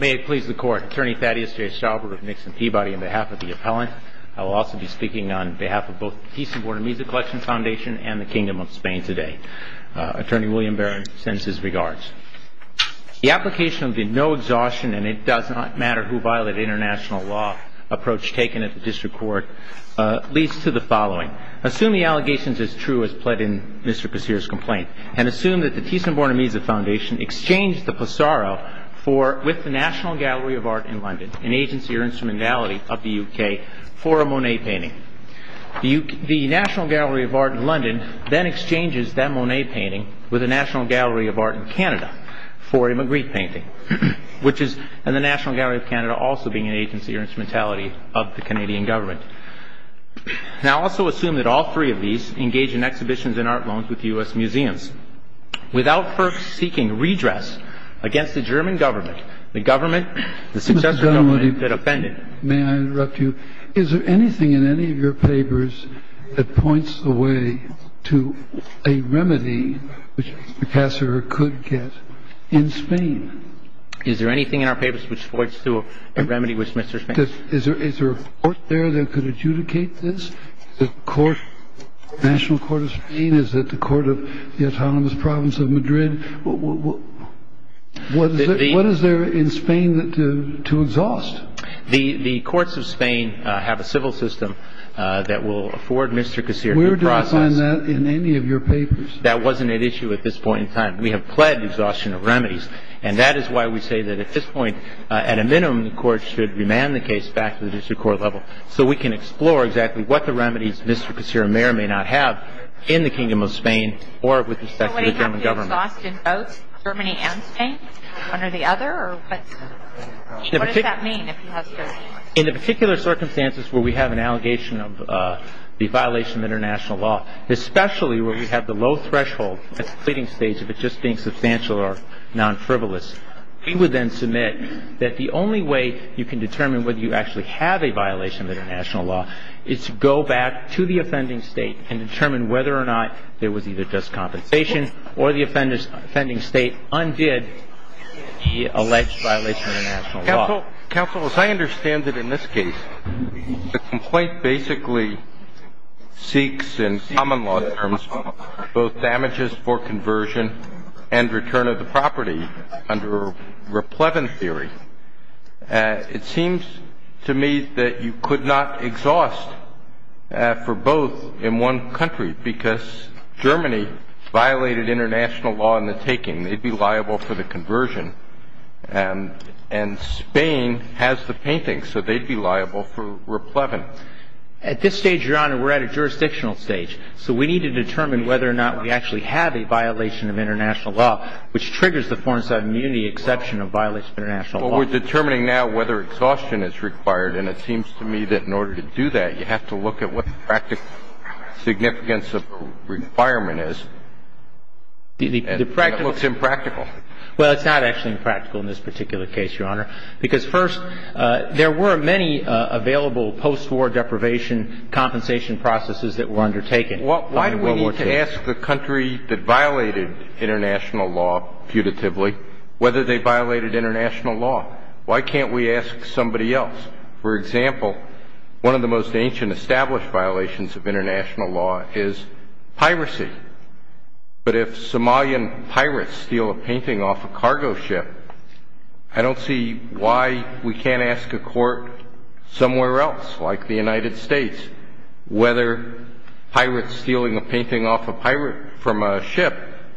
May it please the Court, Attorney Thaddeus J. Stauber of Nixon Peabody on behalf of the Appellant. I will also be speaking on behalf of both the Thyssen-Bornemisza Collection Foundation and the Kingdom of Spain today. Attorney William Barron sends his regards. The application of the no-exhaustion-and-it-does-not-matter-who-violated-international-law approach taken at the District Court leads to the following. Assume the allegations as true as pled in Mr. Casirer's complaint, and assume that the Thyssen-Bornemisza Foundation exchanged the Pissarro with the National Gallery of Art in London, an agency or instrumentality of the UK, for a Monet painting. The National Gallery of Art in London then exchanges that Monet painting with the National Gallery of Art in Canada for a Magritte painting, which is in the National Gallery of Canada also being an agency or instrumentality of the Canadian government. Now, also assume that all three of these engage in exhibitions and art loans with the U.S. museums without first seeking redress against the German government, the government, the successor government that offended. May I interrupt you? Is there anything in any of your papers that points the way to a remedy which Casirer could get in Spain? Is there anything in our papers which points to a remedy which Mr. Spain could get? Is there a court there that could adjudicate this? The National Court of Spain? Is it the Court of the Autonomous Province of Madrid? What is there in Spain to exhaust? The courts of Spain have a civil system that will afford Mr. Casirer the process. Where do I find that in any of your papers? That wasn't at issue at this point in time. We have pled exhaustion of remedies, and that is why we say that at this point, at a minimum, the court should remand the case back to the district court level so we can explore exactly what the remedies Mr. Casirer may or may not have in the Kingdom of Spain or with respect to the German government. So would he have to exhaust in both, Germany and Spain? One or the other? What does that mean if he has to? In the particular circumstances where we have an allegation of the violation of international law, especially where we have the low threshold at the pleading stage of it just being substantial or non-frivolous, he would then submit that the only way you can determine whether you actually have a violation of international law is to go back to the offending state and determine whether or not there was either just compensation or the offending state undid the alleged violation of international law. Counsel, as I understand it in this case, the complaint basically seeks in common law terms both damages for conversion and return of the property under raplevin theory. It seems to me that you could not exhaust for both in one country because Germany violated international law in the taking. They'd be liable for the conversion, and Spain has the paintings, so they'd be liable for raplevin. At this stage, Your Honor, we're at a jurisdictional stage. So we need to determine whether or not we actually have a violation of international law which triggers the foreign-side immunity exception of violation of international law. Well, we're determining now whether exhaustion is required, and it seems to me that in order to do that, you have to look at what the practical significance of the requirement is, and it looks impractical. Well, it's not actually impractical in this particular case, Your Honor, because first, there were many available post-war deprivation compensation processes that were undertaken. Why do we need to ask the country that violated international law putatively whether they violated international law? Why can't we ask somebody else? For example, one of the most ancient established violations of international law is piracy. But if Somalian pirates steal a painting off a cargo ship, I don't see why we can't ask a court somewhere else, like the United States, whether pirates stealing a painting off a pirate from a ship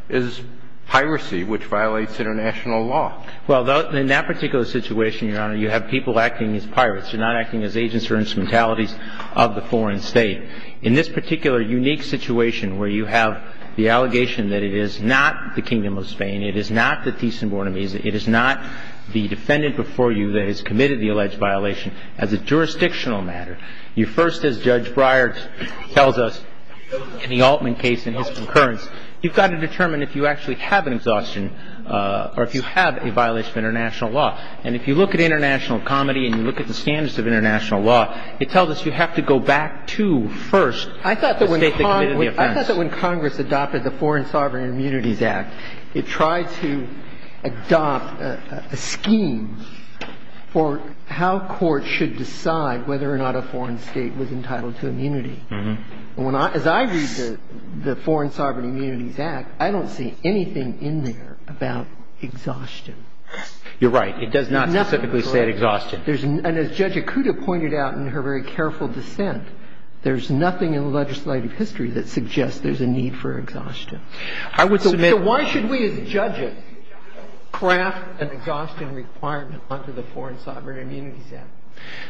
is piracy, which violates international law. Well, in that particular situation, Your Honor, you have people acting as pirates. They're not acting as agents or instrumentalities of the foreign state. In this particular unique situation where you have the allegation that it is not the Kingdom of Spain, it is not the Tizan Bornemis, it is not the defendant before you that has committed the alleged violation, as a jurisdictional matter, you first, as Judge Breyer tells us in the Altman case in his concurrence, you've got to determine if you actually have an exhaustion or if you have a violation of international law. And if you look at international comedy and you look at the standards of international law, it tells us you have to go back to first the state that committed the offense. I thought that when Congress adopted the Foreign Sovereign Immunities Act, it tried to adopt a scheme for how courts should decide whether or not a foreign state was entitled to immunity. And as I read the Foreign Sovereign Immunities Act, I don't see anything in there about exhaustion. You're right. It does not specifically say exhaustion. And as Judge Akuta pointed out in her very careful dissent, there's nothing in legislative history that suggests there's a need for exhaustion. So why should we, as judges, craft an exhaustion requirement under the Foreign Sovereign Immunities Act?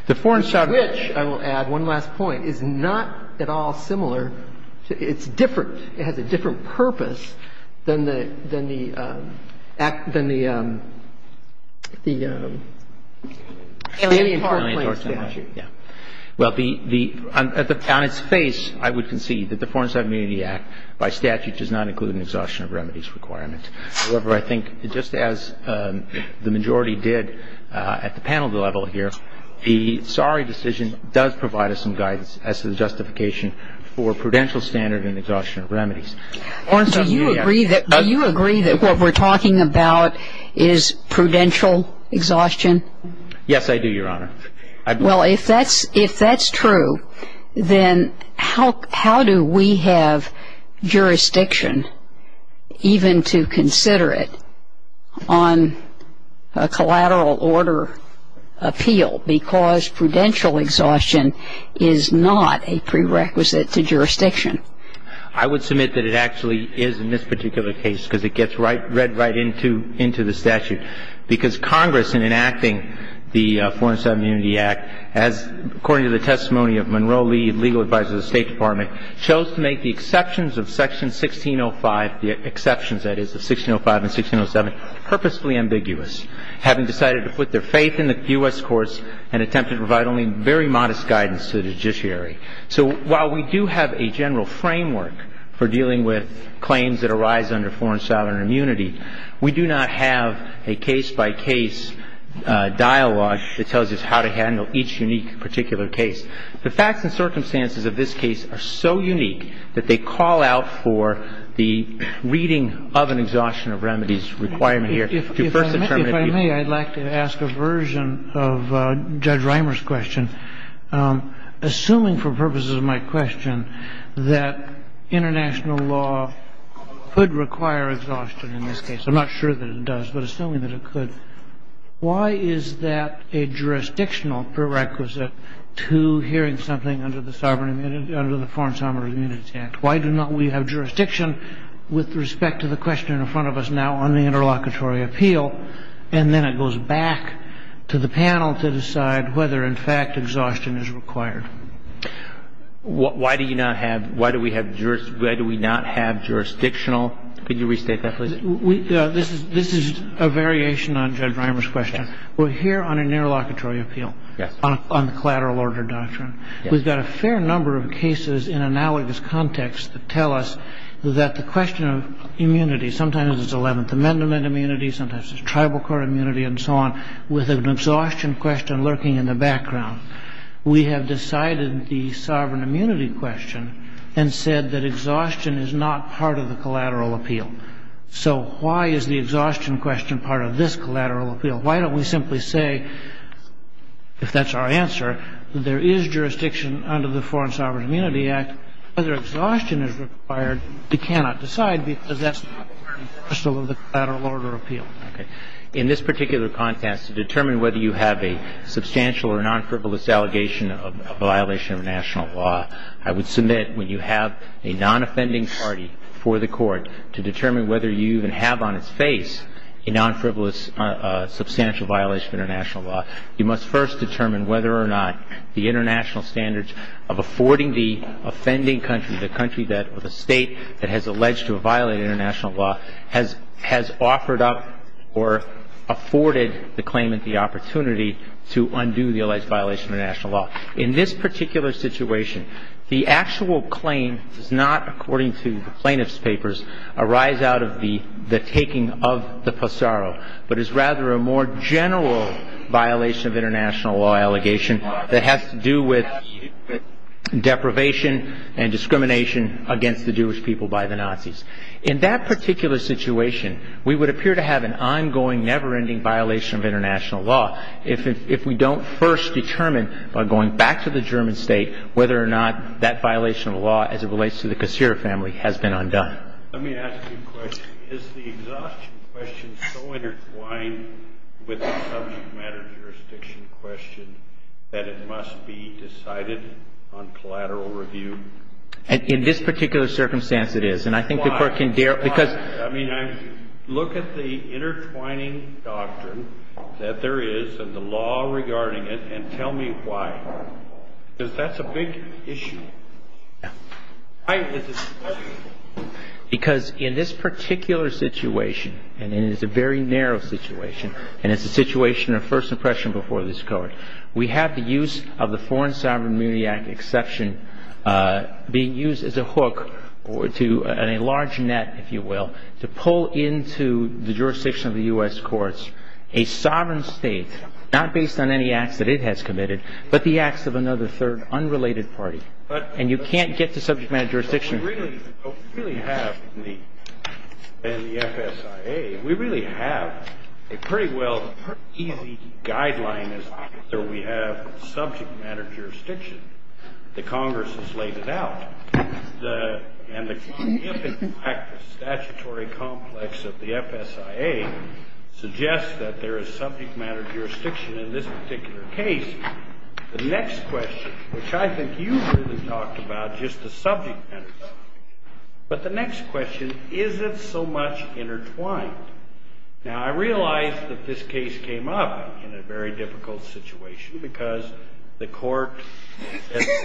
The Foreign Sovereign Immunities Act, which, I will add one last point, is not at all similar. It's different. It has a different purpose than the act, than the alien tar plan statute. Well, on its face, I would concede that the Foreign Sovereign Immunities Act, by statute, does not include an exhaustion of remedies requirement. However, I think just as the majority did at the panel level here, the sorry decision does provide us some guidance as to the justification for prudential standard and exhaustion of remedies. Orrin, do you agree that what we're talking about is prudential exhaustion? Yes, I do, Your Honor. Well, if that's true, then how do we have jurisdiction even to consider it on a collateral order appeal, because prudential exhaustion is not a prerequisite to jurisdiction? I would submit that it actually is in this particular case, because it gets read right into the statute. Because Congress, in enacting the Foreign Sovereign Immunity Act, as according to the testimony of Monroe Lee, legal advisor to the State Department, chose to make the exceptions of section 1605, the exceptions, that is, of 1605 and 1607, purposefully ambiguous, having decided to put their faith in the U.S. courts and attempt to provide only very modest guidance to the judiciary. So while we do have a general framework for dealing with claims that arise under foreign sovereign immunity, we do not have a case-by-case dialogue that tells us how to handle each unique particular case. The facts and circumstances of this case are so unique that they call out for the reading of an exhaustion of remedies requirement here to first determine the appeal. If I may, I'd like to ask a version of Judge Reimer's question, assuming for purposes of my question that international law could require exhaustion in this case. I'm not sure that it does, but assuming that it could, why is that a jurisdictional prerequisite to hearing something under the Foreign Sovereign Immunity Act? Why do not we have jurisdiction with respect to the question in front of us now on the interlocutory appeal, and then it goes back to the panel to decide whether, in fact, exhaustion is required? Why do we not have jurisdictional? Could you restate that, please? This is a variation on Judge Reimer's question. We're here on an interlocutory appeal on the collateral order doctrine. We've got a fair number of cases in analogous context that tell us that the question of immunity, sometimes it's Eleventh Amendment immunity, sometimes it's tribal court immunity and so on, with an exhaustion question lurking in the background. We have decided the sovereign immunity question and said that exhaustion is not part of the collateral appeal. So why is the exhaustion question part of this collateral appeal? Why don't we simply say, if that's our answer, that there is jurisdiction under the Foreign Sovereign Immunity Act, whether exhaustion is required, we cannot decide because that's not part of the collateral order appeal. Okay. In this particular context, to determine whether you have a substantial or non-frivolous allegation of violation of international law, I would submit when you have a non-offending party for the court to determine whether you even have on its face a non-frivolous substantial violation of international law, you must first determine whether or not the international standards of affording the offending country, the country that or the state that has alleged to have violated international law, has offered up or afforded the claimant the opportunity to undo the alleged violation of international law. In this particular situation, the actual claim does not, according to the plaintiff's papers, arise out of the taking of the passaro, but is rather a more general violation of international law allegation that has to do with deprivation and discrimination against the Jewish people by the Nazis. In that particular situation, we would appear to have an ongoing, never-ending violation of international law if we don't first determine, by going back to the German state, whether or not that violation of law as it relates to the Kossira family has been undone. Let me ask you a question. Is the exhaustion question so intertwined with the subject matter jurisdiction question that it must be decided on collateral review? In this particular circumstance, it is. And I think the court can dare... I mean, look at the intertwining doctrine that there is and the law regarding it and tell me why. Because that's a big issue. Because in this particular situation, and it is a very narrow situation, and it's a situation of first impression before this Court, we have the use of the Foreign Sovereign Immunity Act exception being used as a hook, or a large net, if you will, to pull into the jurisdiction of the U.S. courts a sovereign state, not based on any acts that it has committed, but the acts of another third, unrelated party. And you can't get to subject matter jurisdiction... We really have, in the FSIA, we really have a pretty well easy guideline as to whether we have subject matter jurisdiction. The Congress has laid it out. And the common impact of statutory complex of the FSIA suggests that there is subject matter jurisdiction in this particular case. The next question, which I think you really talked about just the subject matter jurisdiction, but the next question, is it so much intertwined? Now, I realize that this case came up in a very difficult situation because the Court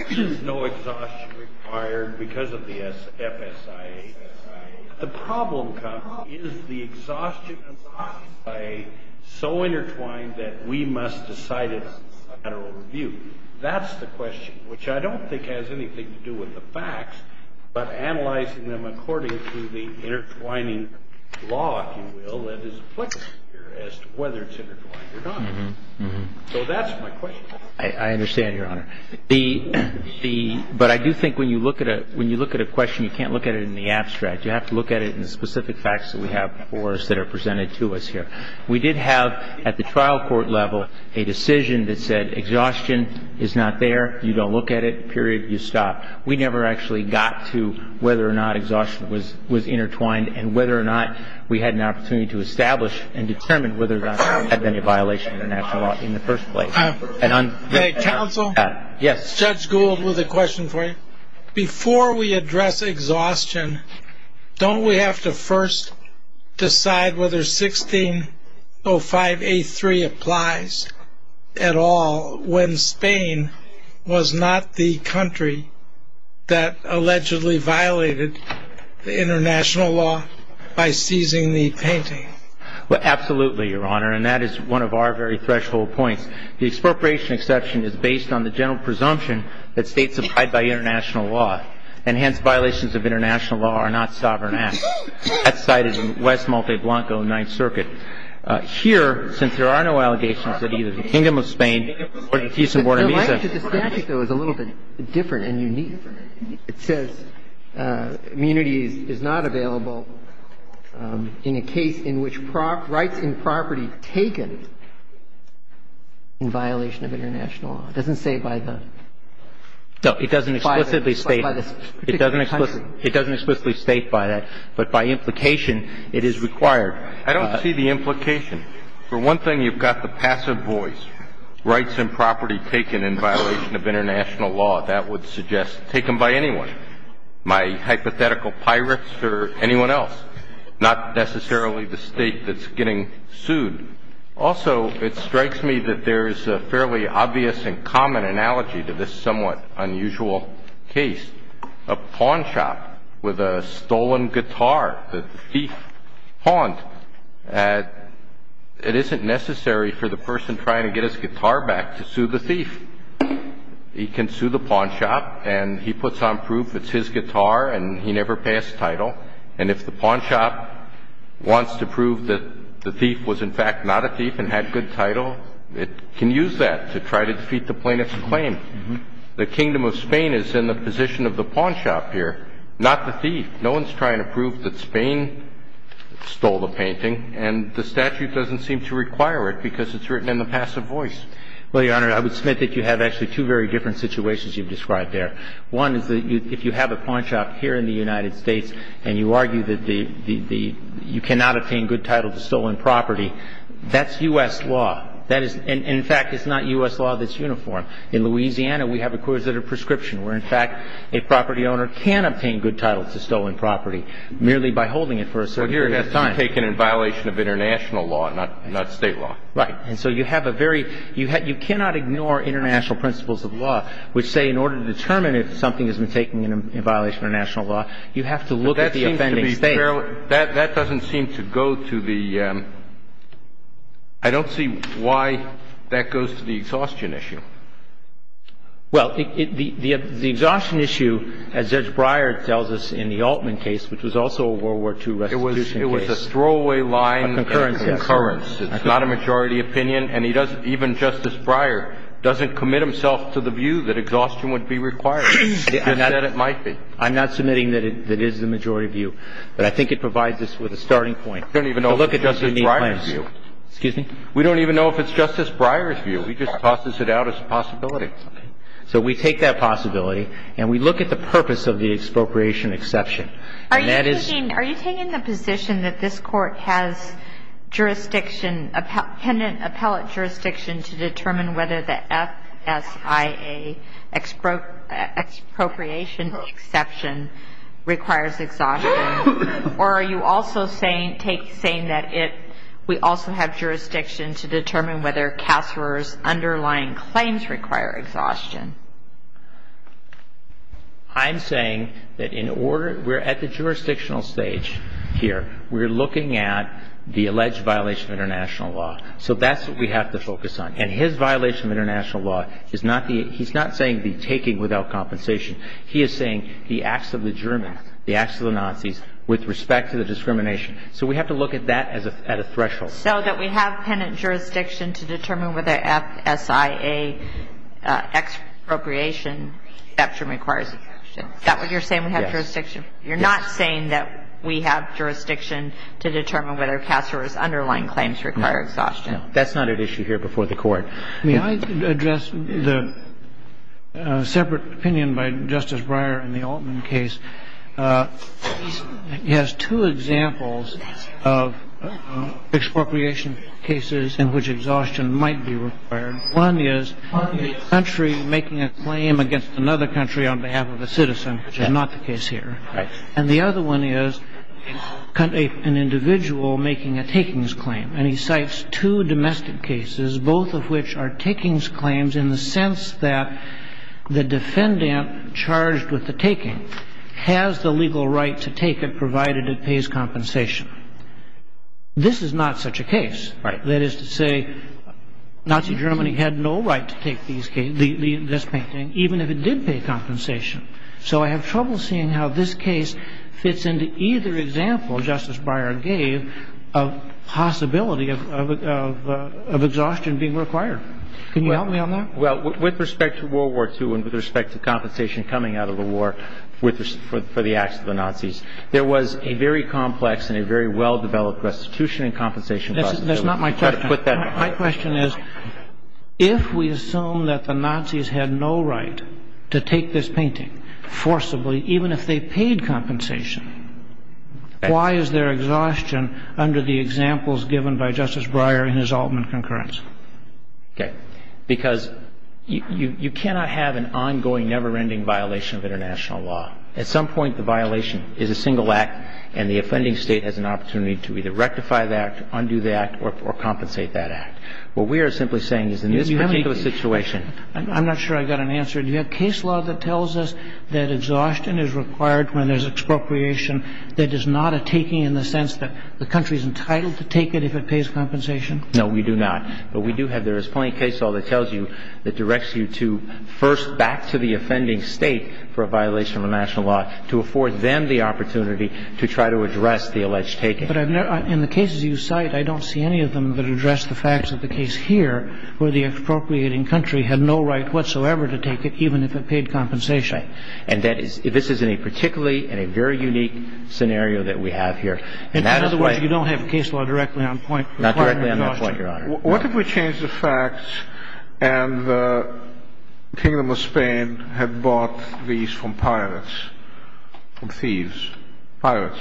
has no exhaustion required because of the FSIA. The problem comes, is the exhaustion of the FSIA so intertwined that we must decide it in a federal review? That's the question, which I don't think has anything to do with the facts, but analyzing them according to the intertwining law, if you will, that is applicable here as to whether it's intertwined or not. So that's my question. I understand, Your Honor. But I do think when you look at a question, you can't look at it in the abstract. You have to look at it in the specific facts that we have before us that are presented to us here. We did have, at the trial court level, a decision that said exhaustion is not there, you don't look at it, period, you stop. We never actually got to whether or not exhaustion was intertwined and whether or not we had an opportunity to establish and determine whether or not there was any violation of international law in the first place. Counsel? Yes. Judge Gould, with a question for you. Before we address exhaustion, don't we have to first decide whether 1605A3 applies at all when Spain was not the country that allegedly violated the international law by seizing the painting? Absolutely, Your Honor, and that is one of our very threshold points. The expropriation exception is based on the general presumption that states abide by international law, and hence violations of international law are not sovereign acts. That's cited in West Malte Blanco, Ninth Circuit. Here, since there are no allegations that either the Kingdom of Spain or the Peace in Buenos Aires The statute, though, is a little bit different and unique. It says immunity is not available in a case in which rights in property taken in violation of international law. It doesn't say by the country. No, it doesn't explicitly state that. It doesn't explicitly state by that, but by implication it is required. I don't see the implication. For one thing, you've got the passive voice, rights in property taken in violation of international law. That would suggest taken by anyone, my hypothetical pirates or anyone else, not necessarily the state that's getting sued. Also, it strikes me that there is a fairly obvious and common analogy to this somewhat unusual case, a pawn shop with a stolen guitar that the thief pawned. It isn't necessary for the person trying to get his guitar back to sue the thief. He can sue the pawn shop, and he puts on proof it's his guitar, and he never passed title. And if the pawn shop wants to prove that the thief was, in fact, not a thief and had good title, it can use that to try to defeat the plaintiff's claim. The Kingdom of Spain is in the position of the pawn shop here, not the thief. No one's trying to prove that Spain stole the painting, and the statute doesn't seem to require it because it's written in the passive voice. Well, Your Honor, I would submit that you have actually two very different situations you've described there. One is that if you have a pawn shop here in the United States, and you argue that you cannot obtain good title to stolen property, that's U.S. law. That is, in fact, it's not U.S. law that's uniform. In Louisiana, we have a coercive prescription where, in fact, a property owner can obtain good title to stolen property merely by holding it for a certain period of time. But here it has to be taken in violation of international law, not state law. Right. And so you have a very – you cannot ignore international principles of law, which say in order to determine if something has been taken in violation of international law, you have to look at the offending state. Well, that doesn't seem to go to the – I don't see why that goes to the exhaustion issue. Well, the exhaustion issue, as Judge Breyer tells us in the Altman case, which was also a World War II restitution case. It was a throwaway line of concurrence. Of concurrence, yes. It's not a majority opinion. And he doesn't – even Justice Breyer doesn't commit himself to the view that exhaustion would be required, and that it might be. I'm not submitting that it is the majority view. But I think it provides us with a starting point. We don't even know if it's Justice Breyer's view. Excuse me? We don't even know if it's Justice Breyer's view. He just tosses it out as a possibility. Okay. So we take that possibility, and we look at the purpose of the expropriation exception. And that is – Are you taking the position that this Court has jurisdiction, pendent appellate jurisdiction to determine whether the FSIA expropriation exception requires exhaustion? Or are you also saying that it – we also have jurisdiction to determine whether CASRA's underlying claims require exhaustion? I'm saying that in order – we're at the jurisdictional stage here. We're looking at the alleged violation of international law. So that's what we have to focus on. And his violation of international law is not the – he's not saying the taking without compensation. He is saying the acts of the Germans, the acts of the Nazis, with respect to the discrimination. So we have to look at that as a – at a threshold. So that we have pendant jurisdiction to determine whether FSIA expropriation exception requires exhaustion. Is that what you're saying, we have jurisdiction? Yes. You're not saying that we have jurisdiction to determine whether CASRA's underlying claims require exhaustion? No. That's not at issue here before the Court. May I address the separate opinion by Justice Breyer in the Altman case? He has two examples of expropriation cases in which exhaustion might be required. One is a country making a claim against another country on behalf of a citizen, which is not the case here. Right. And the other one is an individual making a takings claim. And he cites two domestic cases, both of which are takings claims in the sense that the defendant charged with the taking has the legal right to take it provided it pays compensation. This is not such a case. Right. That is to say, Nazi Germany had no right to take these cases, this painting, even if it did pay compensation. So I have trouble seeing how this case fits into either example Justice Breyer gave of possibility of exhaustion being required. Can you help me on that? Well, with respect to World War II and with respect to compensation coming out of the war for the acts of the Nazis, there was a very complex and a very well-developed restitution and compensation possibility. That's not my question. My question is, if we assume that the Nazis had no right to take this painting forcibly, even if they paid compensation, why is there exhaustion under the examples given by Justice Breyer in his Altman concurrence? Okay. Because you cannot have an ongoing, never-ending violation of international law. At some point, the violation is a single act, and the offending State has an opportunity to either rectify that, undo that, or compensate that act. What we are simply saying is in this particular situation. I'm not sure I got an answer. Do you have case law that tells us that exhaustion is required when there's expropriation that is not a taking in the sense that the country is entitled to take it if it pays compensation? No, we do not. But we do have the resplendent case law that tells you, that directs you to first back to the offending State for a violation of international law, to afford them the opportunity to try to address the alleged taking. Okay. But in the cases you cite, I don't see any of them that address the facts of the case here, where the expropriating country had no right whatsoever to take it, even if it paid compensation. And this is in a particularly and a very unique scenario that we have here. In other words, you don't have case law directly on point. Not directly on that point, Your Honor. What if we change the facts and the Kingdom of Spain had bought these from pirates, from thieves, pirates,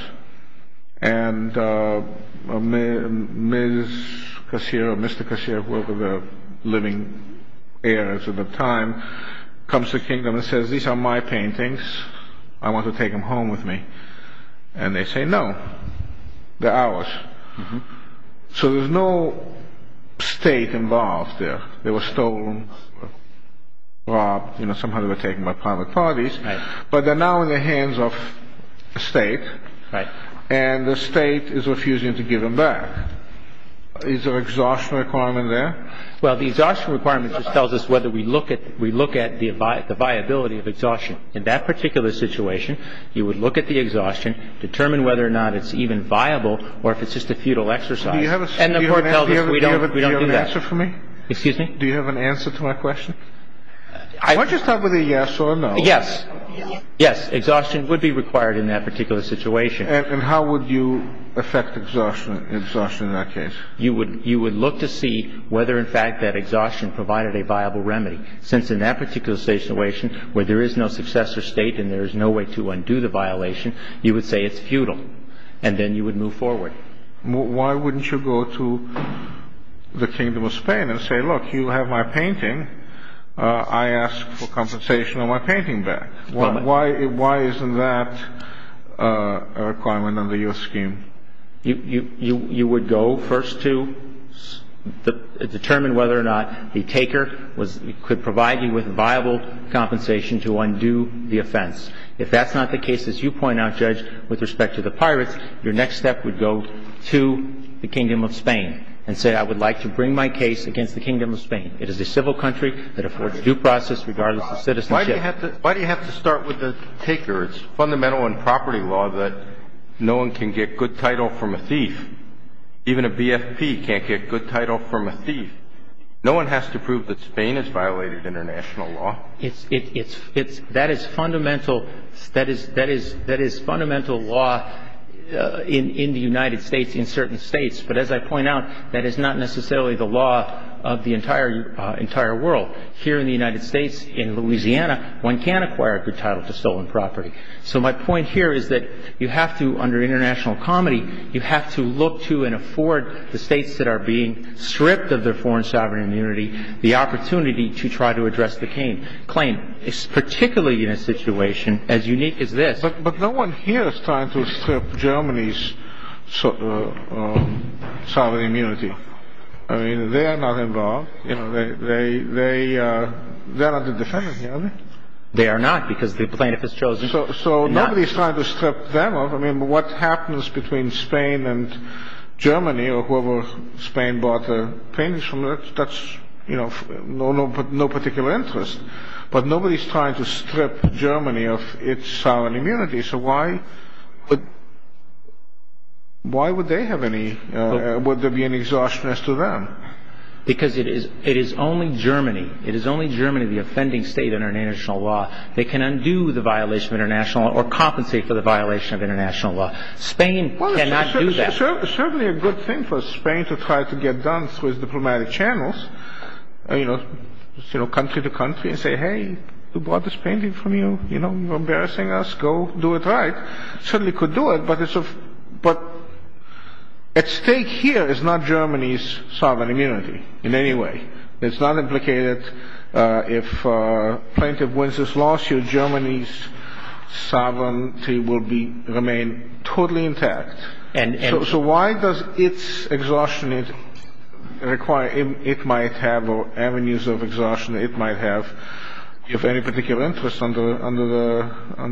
and Mr. Cacero, who was one of the living heirs of the time, comes to the Kingdom and says, these are my paintings, I want to take them home with me. And they say, no, they're ours. So there's no State involved there. They were stolen, robbed, you know, somehow they were taken by private parties. Right. But they're now in the hands of the State. Right. And the State is refusing to give them back. Is there an exhaustion requirement there? Well, the exhaustion requirement just tells us whether we look at the viability of exhaustion. In that particular situation, you would look at the exhaustion, determine whether or not it's even viable or if it's just a futile exercise. And the Court tells us we don't do that. Do you have an answer for me? Excuse me? Do you have an answer to my question? Why don't you start with a yes or a no. Yes. Yes, exhaustion would be required in that particular situation. And how would you affect exhaustion in that case? You would look to see whether, in fact, that exhaustion provided a viable remedy. Since in that particular situation, where there is no successor State and there is no way to undo the violation, you would say it's futile, and then you would move forward. Why wouldn't you go to the Kingdom of Spain and say, look, you have my painting. I ask for compensation on my painting back. Why isn't that a requirement under your scheme? You would go first to determine whether or not the taker could provide you with viable compensation to undo the offense. If that's not the case, as you point out, Judge, with respect to the pirates, your next step would go to the Kingdom of Spain and say, I would like to bring my case against the Kingdom of Spain. It is a civil country that affords due process regardless of citizenship. Why do you have to start with the taker? It's fundamental in property law that no one can get good title from a thief. Even a BFP can't get good title from a thief. No one has to prove that Spain has violated international law. That is fundamental law in the United States, in certain States. But as I point out, that is not necessarily the law of the entire world. Here in the United States, in Louisiana, one can't acquire a good title to stolen property. So my point here is that you have to, under international comedy, you have to look to and afford the states that are being stripped of their foreign sovereign immunity the opportunity to try to address the claim. Particularly in a situation as unique as this. But no one here is trying to strip Germany's sovereign immunity. I mean, they are not involved. They are not the defenders here, are they? They are not, because the plaintiff is chosen. So nobody is trying to strip them off. I mean, what happens between Spain and Germany or whoever Spain bought the paintings from, that's no particular interest. But nobody is trying to strip Germany of its sovereign immunity. So why would they have any, would there be any exhaustion as to them? Because it is only Germany, it is only Germany, the offending state under international law, that can undo the violation of international law or compensate for the violation of international law. Spain cannot do that. Certainly a good thing for Spain to try to get done through its diplomatic channels, you know, country to country, and say, hey, we bought this painting from you, you know, you're embarrassing us, go do it right. Certainly could do it, but at stake here is not Germany's sovereign immunity in any way. It's not implicated if a plaintiff wins this lawsuit, Germany's sovereignty will remain totally intact. So why does its exhaustion require, it might have, or avenues of exhaustion it might have, give any particular interest under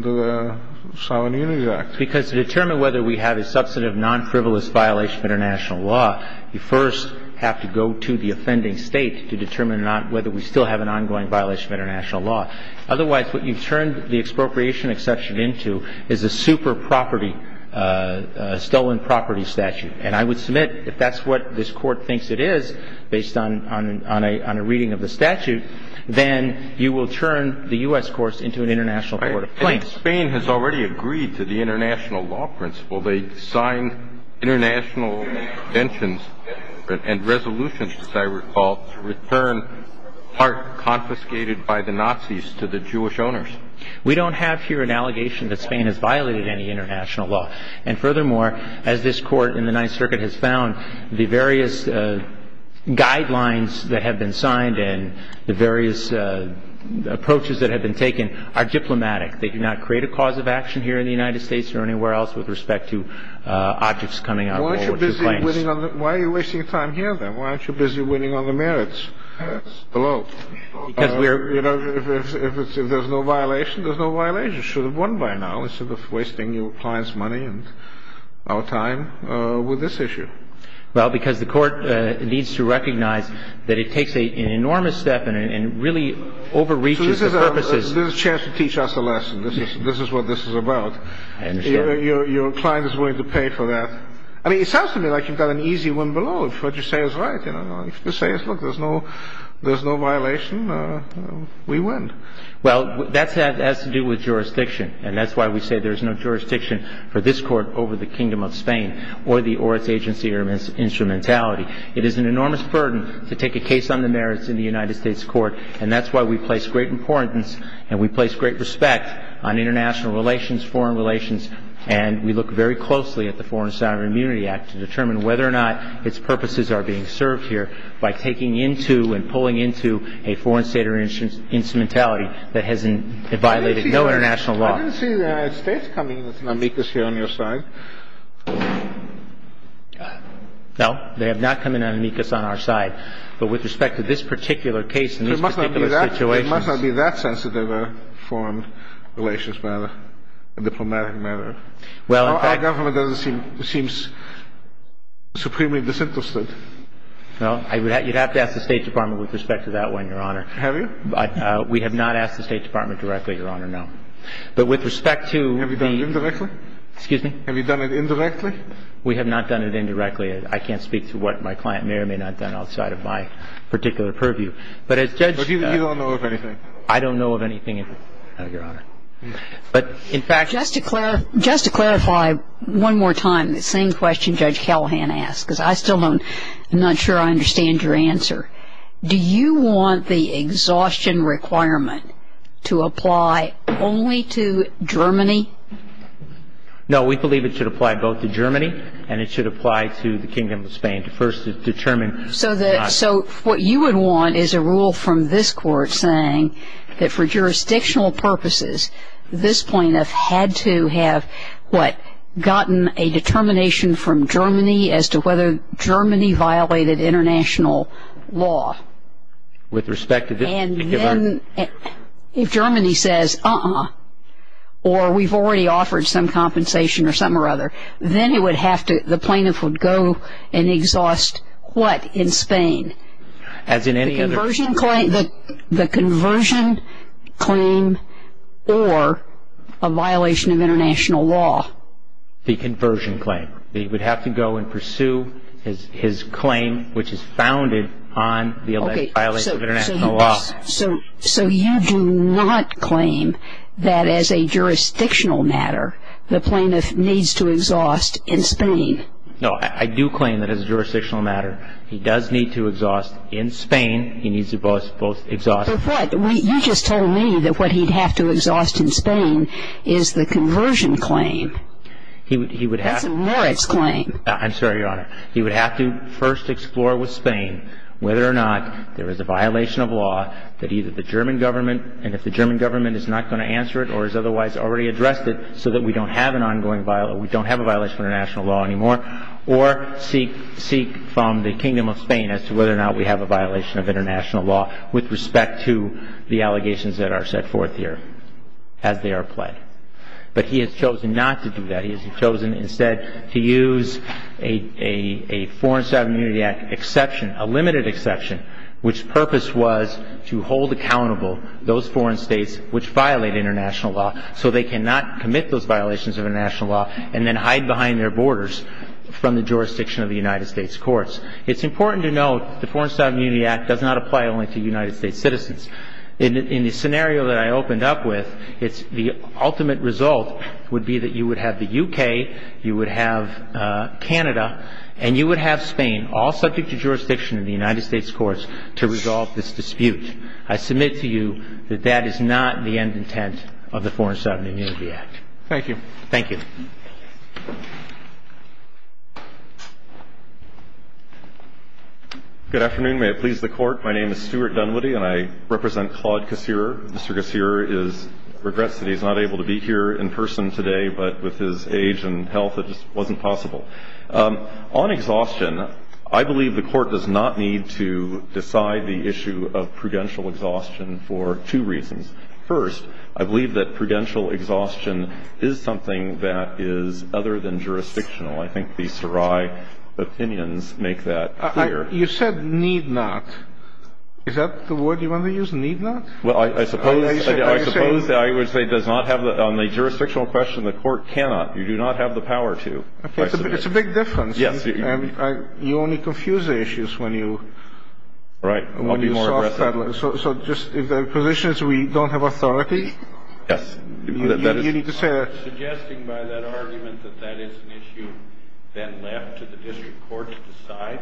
the Sovereign Immunity Act? Because to determine whether we have a substantive non-frivolous violation of international law, you first have to go to the offending state to determine whether we still have an ongoing violation of international law. Otherwise, what you've turned the expropriation exception into is a super property, a stolen property statute. And I would submit if that's what this Court thinks it is, based on a reading of the statute, then you will turn the U.S. courts into an international court of plaintiffs. And Spain has already agreed to the international law principle. They signed international conventions and resolutions, as I recall, to return parts confiscated by the Nazis to the Jewish owners. We don't have here an allegation that Spain has violated any international law. And furthermore, as this Court in the Ninth Circuit has found, the various guidelines that have been signed and the various approaches that have been taken are diplomatic. They do not create a cause of action here in the United States or anywhere else with respect to objects coming out of World War II planes. Why are you wasting your time here, then? Why aren't you busy winning on the merits below? Because we are. You know, if there's no violation, there's no violation. You should have won by now instead of wasting your client's money and our time with this issue. Well, because the Court needs to recognize that it takes an enormous step and really overreaches the purposes. This is a chance to teach us a lesson. This is what this is about. I understand. Your client is willing to pay for that. I mean, it sounds to me like you've got an easy win below if what you say is right. If you say, look, there's no violation, we win. Well, that has to do with jurisdiction, and that's why we say there's no jurisdiction for this Court over the Kingdom of Spain or its agency or instrumentality. It is an enormous burden to take a case on the merits in the United States Court, and that's why we place great importance and we place great respect on international relations, foreign relations, and we look very closely at the Foreign Sign of Immunity Act to determine whether or not its purposes are being served here by taking into and pulling into a foreign state or instrumentality that has violated no international law. I didn't see the United States coming with an amicus here on your side. No, they have not come in with an amicus on our side. But with respect to this particular case and these particular situations — There must not be that sensitive a foreign relations matter, a diplomatic matter. Well, in fact — Our government doesn't seem — seems supremely disinterested. Well, you'd have to ask the State Department with respect to that one, Your Honor. Have you? We have not asked the State Department directly, Your Honor, no. But with respect to the — Have you done it indirectly? Excuse me? Have you done it indirectly? We have not done it indirectly. I can't speak to what my client may or may not have done outside of my particular purview. But as Judge — But you don't know of anything? I don't know of anything, Your Honor. But, in fact — Just to clarify one more time the same question Judge Callahan asked, because I still don't — I'm not sure I understand your answer. Do you want the exhaustion requirement to apply only to Germany? No. We believe it should apply both to Germany and it should apply to the Kingdom of Spain to first determine — So the — so what you would want is a rule from this Court saying that for jurisdictional purposes, this plaintiff had to have, what, gotten a determination from Germany as to whether Germany violated international law. With respect to — And then if Germany says, uh-uh, or we've already offered some compensation or something or other, then it would have to — the plaintiff would go and exhaust, what, in Spain? As in any other — The conversion claim or a violation of international law. The conversion claim. He would have to go and pursue his claim, which is founded on the alleged violation of international law. So you do not claim that as a jurisdictional matter the plaintiff needs to exhaust in Spain? No, I do claim that as a jurisdictional matter he does need to exhaust in Spain. He needs to both exhaust — For what? You just told me that what he'd have to exhaust in Spain is the conversion claim. He would have — I'm sorry, Your Honor. He would have to first explore with Spain whether or not there is a violation of law that either the German government — and if the German government is not going to answer it or has otherwise already addressed it so that we don't have an ongoing — we don't have a violation of international law anymore or seek from the Kingdom of Spain as to whether or not we have a violation of international law with respect to the allegations that are set forth here as they are pled. But he has chosen not to do that. He has chosen instead to use a Foreign Staff Immunity Act exception, a limited exception, which purpose was to hold accountable those foreign states which violate international law so they cannot commit those violations of international law and then hide behind their borders from the jurisdiction of the United States courts. It's important to note the Foreign Staff Immunity Act does not apply only to United States citizens. In the scenario that I opened up with, the ultimate result would be that you would have the U.K., you would have Canada, and you would have Spain all subject to jurisdiction of the United States courts to resolve this dispute. I submit to you that that is not the end intent of the Foreign Staff Immunity Act. Thank you. Good afternoon. May it please the Court. My name is Stuart Dunwoody, and I represent Claude Cacere. Mr. Cacere regrets that he's not able to be here in person today, but with his age and health, it just wasn't possible. On exhaustion, I believe the Court does not need to decide the issue of prudential exhaustion for two reasons. First, I believe that prudential exhaustion is something that is other than jurisdictional. I think the Sarai opinions make that clear. You said need not. Is that the word you want to use, need not? Well, I suppose that I would say does not have the – on the jurisdictional question, the Court cannot. You do not have the power to. It's a big difference. Yes. You only confuse the issues when you – Right. I'll be more aggressive. So just if the position is we don't have authority? Yes. You need to say that. Are you suggesting by that argument that that is an issue then left to the district court to decide?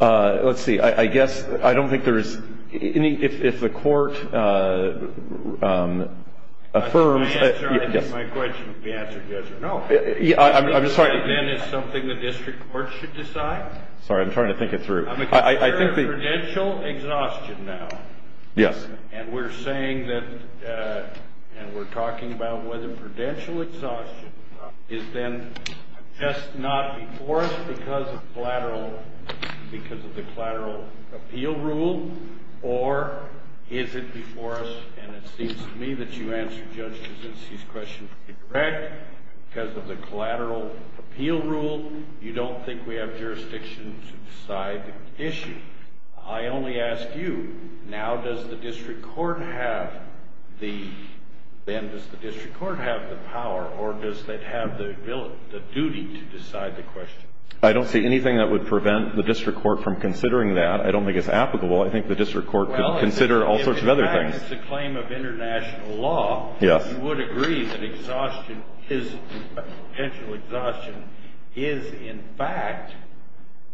Let's see. I guess – I don't think there is any – if the Court affirms – My question would be answered yes or no. I'm sorry. Do you think that then is something the district court should decide? Sorry, I'm trying to think it through. I think the – I'm considering prudential exhaustion now. Yes. And we're saying that – and we're talking about whether prudential exhaustion is then just not before us because of collateral – because of the collateral appeal rule? Or is it before us, and it seems to me that you answered Judge Gavincy's question correct, because of the collateral appeal rule, you don't think we have jurisdiction to decide the issue? I only ask you, now does the district court have the – then does the district court have the power, or does it have the ability – the duty to decide the question? I don't see anything that would prevent the district court from considering that. I don't think it's applicable. I think the district court could consider all sorts of other things. Well, if in fact it's a claim of international law, you would agree that exhaustion is – prudential exhaustion is in fact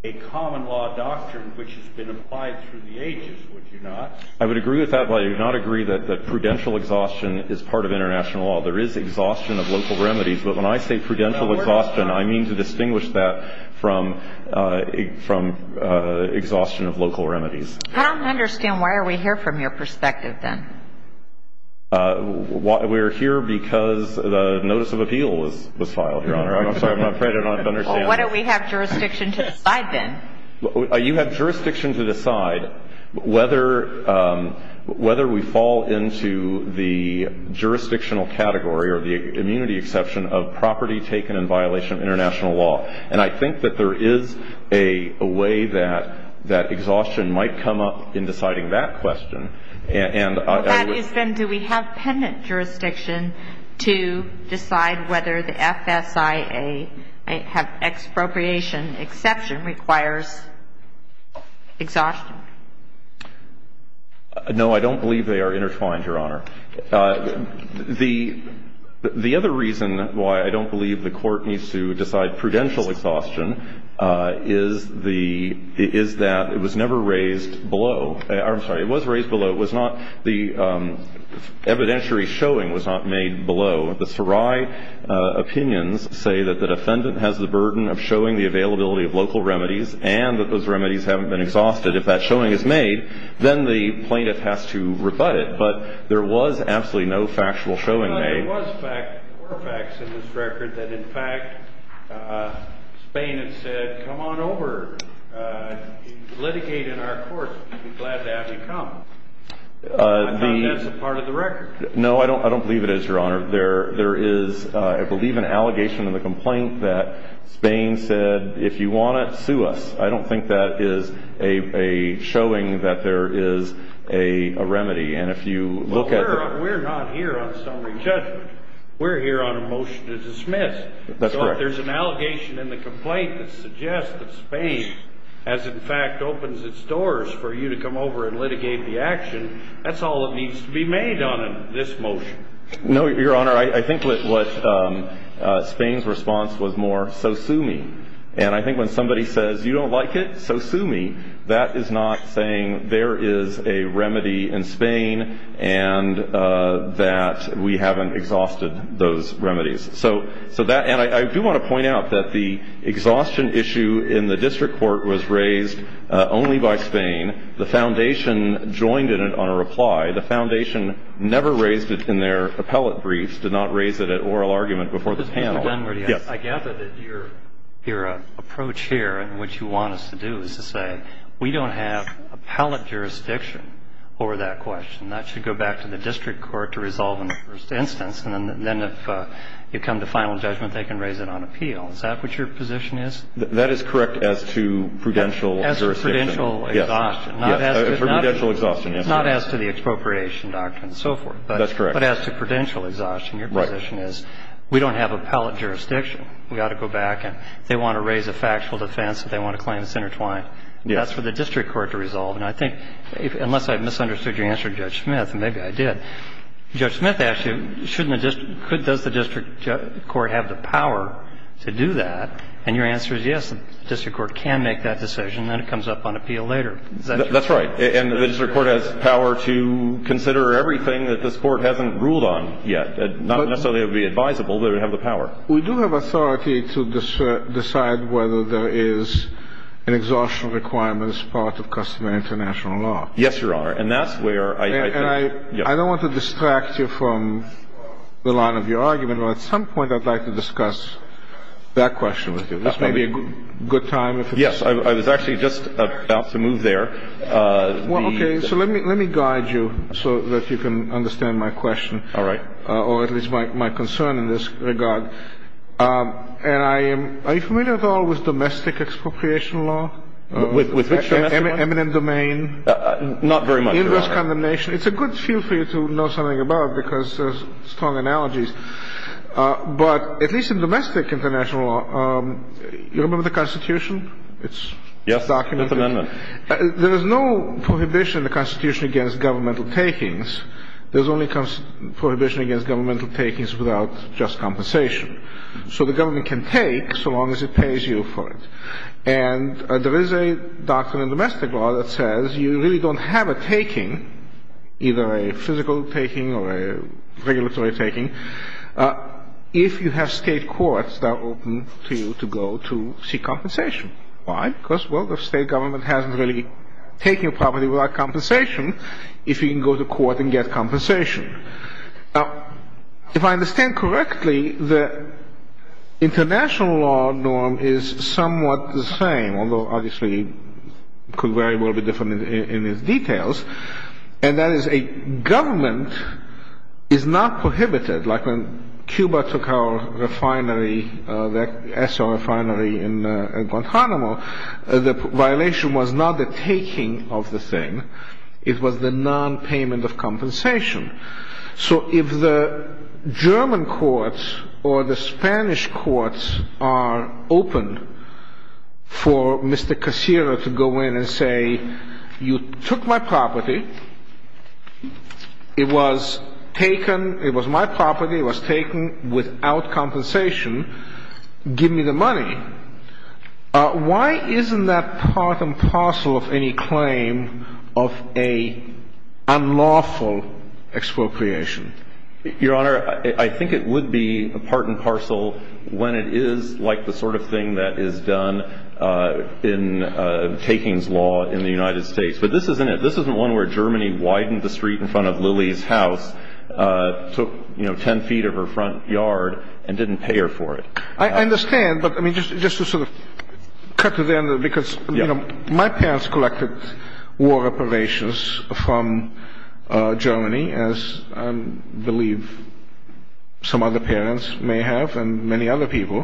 a common law doctrine which has been applied through the ages, would you not? I would agree with that, but I do not agree that prudential exhaustion is part of international law. There is exhaustion of local remedies. But when I say prudential exhaustion, I mean to distinguish that from exhaustion of local remedies. I don't understand. Why are we here from your perspective, then? We're here because the notice of appeal was filed, Your Honor. I'm sorry, I'm afraid I don't understand. Why don't we have jurisdiction to decide, then? You have jurisdiction to decide whether we fall into the jurisdictional category or the immunity exception of property taken in violation of international law. And I think that there is a way that exhaustion might come up in deciding that question. Well, that is, then, do we have pendant jurisdiction to decide whether the FSIA, have expropriation exception requires exhaustion? No, I don't believe they are intertwined, Your Honor. The other reason why I don't believe the Court needs to decide prudential exhaustion is that it was never raised below. I'm sorry, it was raised below. It was not the evidentiary showing was not made below. The Sarai opinions say that the defendant has the burden of showing the availability of local remedies and that those remedies haven't been exhausted. If that showing is made, then the plaintiff has to rebut it. But there was absolutely no factual showing made. There were facts in this record that, in fact, Spain had said, come on over, litigate in our courts, we'd be glad to have you come. I think that's a part of the record. No, I don't believe it is, Your Honor. There is, I believe, an allegation in the complaint that Spain said, if you want it, sue us. I don't think that is a showing that there is a remedy. We're not here on summary judgment. We're here on a motion to dismiss. So if there's an allegation in the complaint that suggests that Spain has, in fact, opened its doors for you to come over and litigate the action, that's all that needs to be made on this motion. No, Your Honor, I think what Spain's response was more, so sue me. And I think when somebody says, you don't like it, so sue me, that is not saying there is a remedy in Spain and that we haven't exhausted those remedies. And I do want to point out that the exhaustion issue in the district court was raised only by Spain. The foundation joined in it on a reply. The foundation never raised it in their appellate briefs, did not raise it at oral argument before the panel. I gather that your approach here and what you want us to do is to say, we don't have appellate jurisdiction over that question. That should go back to the district court to resolve in the first instance. And then if you come to final judgment, they can raise it on appeal. Is that what your position is? That is correct as to prudential jurisdiction. As to prudential exhaustion. Yes. Prudential exhaustion. Not as to the expropriation doctrine and so forth. That's correct. But as to prudential exhaustion, your position is, we don't have appellate jurisdiction. We ought to go back and if they want to raise a factual defense, if they want to claim it's intertwined, that's for the district court to resolve. And I think, unless I misunderstood your answer to Judge Smith, and maybe I did, Judge Smith asked you, shouldn't the district court, does the district court have the power to do that? And your answer is, yes, the district court can make that decision. Then it comes up on appeal later. Is that correct? And the district court has power to consider everything that this Court hasn't ruled on yet. Not necessarily it would be advisable, but it would have the power. We do have authority to decide whether there is an exhaustion requirement as part of customary international law. Yes, Your Honor. And that's where I think. And I don't want to distract you from the line of your argument, but at some point I'd like to discuss that question with you. This may be a good time. Yes, I was actually just about to move there. Well, okay. So let me guide you so that you can understand my question. All right. Or at least my concern in this regard. And I am — are you familiar at all with domestic expropriation law? With which domestic one? Eminent domain. Not very much, Your Honor. Inverse condemnation. It's a good field for you to know something about because there's strong analogies. But at least in domestic international law, you remember the Constitution? It's documented. Yes, I remember. There is no prohibition in the Constitution against governmental takings. There's only prohibition against governmental takings without just compensation. So the government can take so long as it pays you for it. And there is a doctrine in domestic law that says you really don't have a taking, either a physical taking or a regulatory taking, if you have state courts that are open to you to go to seek compensation. Why? Because, well, the state government hasn't really taken a property without compensation if you can go to court and get compensation. Now, if I understand correctly, the international law norm is somewhat the same, although obviously it could very well be different in its details, and that is a government is not prohibited. Like when Cuba took our refinery, the ESO refinery in Guantanamo, the violation was not the taking of the thing. It was the nonpayment of compensation. So if the German courts or the Spanish courts are open for Mr. Cacera to go in and say, you took my property. It was taken. It was my property. It was taken without compensation. Give me the money. Why isn't that part and parcel of any claim of an unlawful expropriation? Your Honor, I think it would be part and parcel when it is like the sort of thing that is done in takings law in the United States. But this isn't it. This isn't one where Germany widened the street in front of Lily's house, took, you know, 10 feet of her front yard and didn't pay her for it. I understand, but, I mean, just to sort of cut to the end, because, you know, my parents collected war reparations from Germany, as I believe some other parents may have and many other people,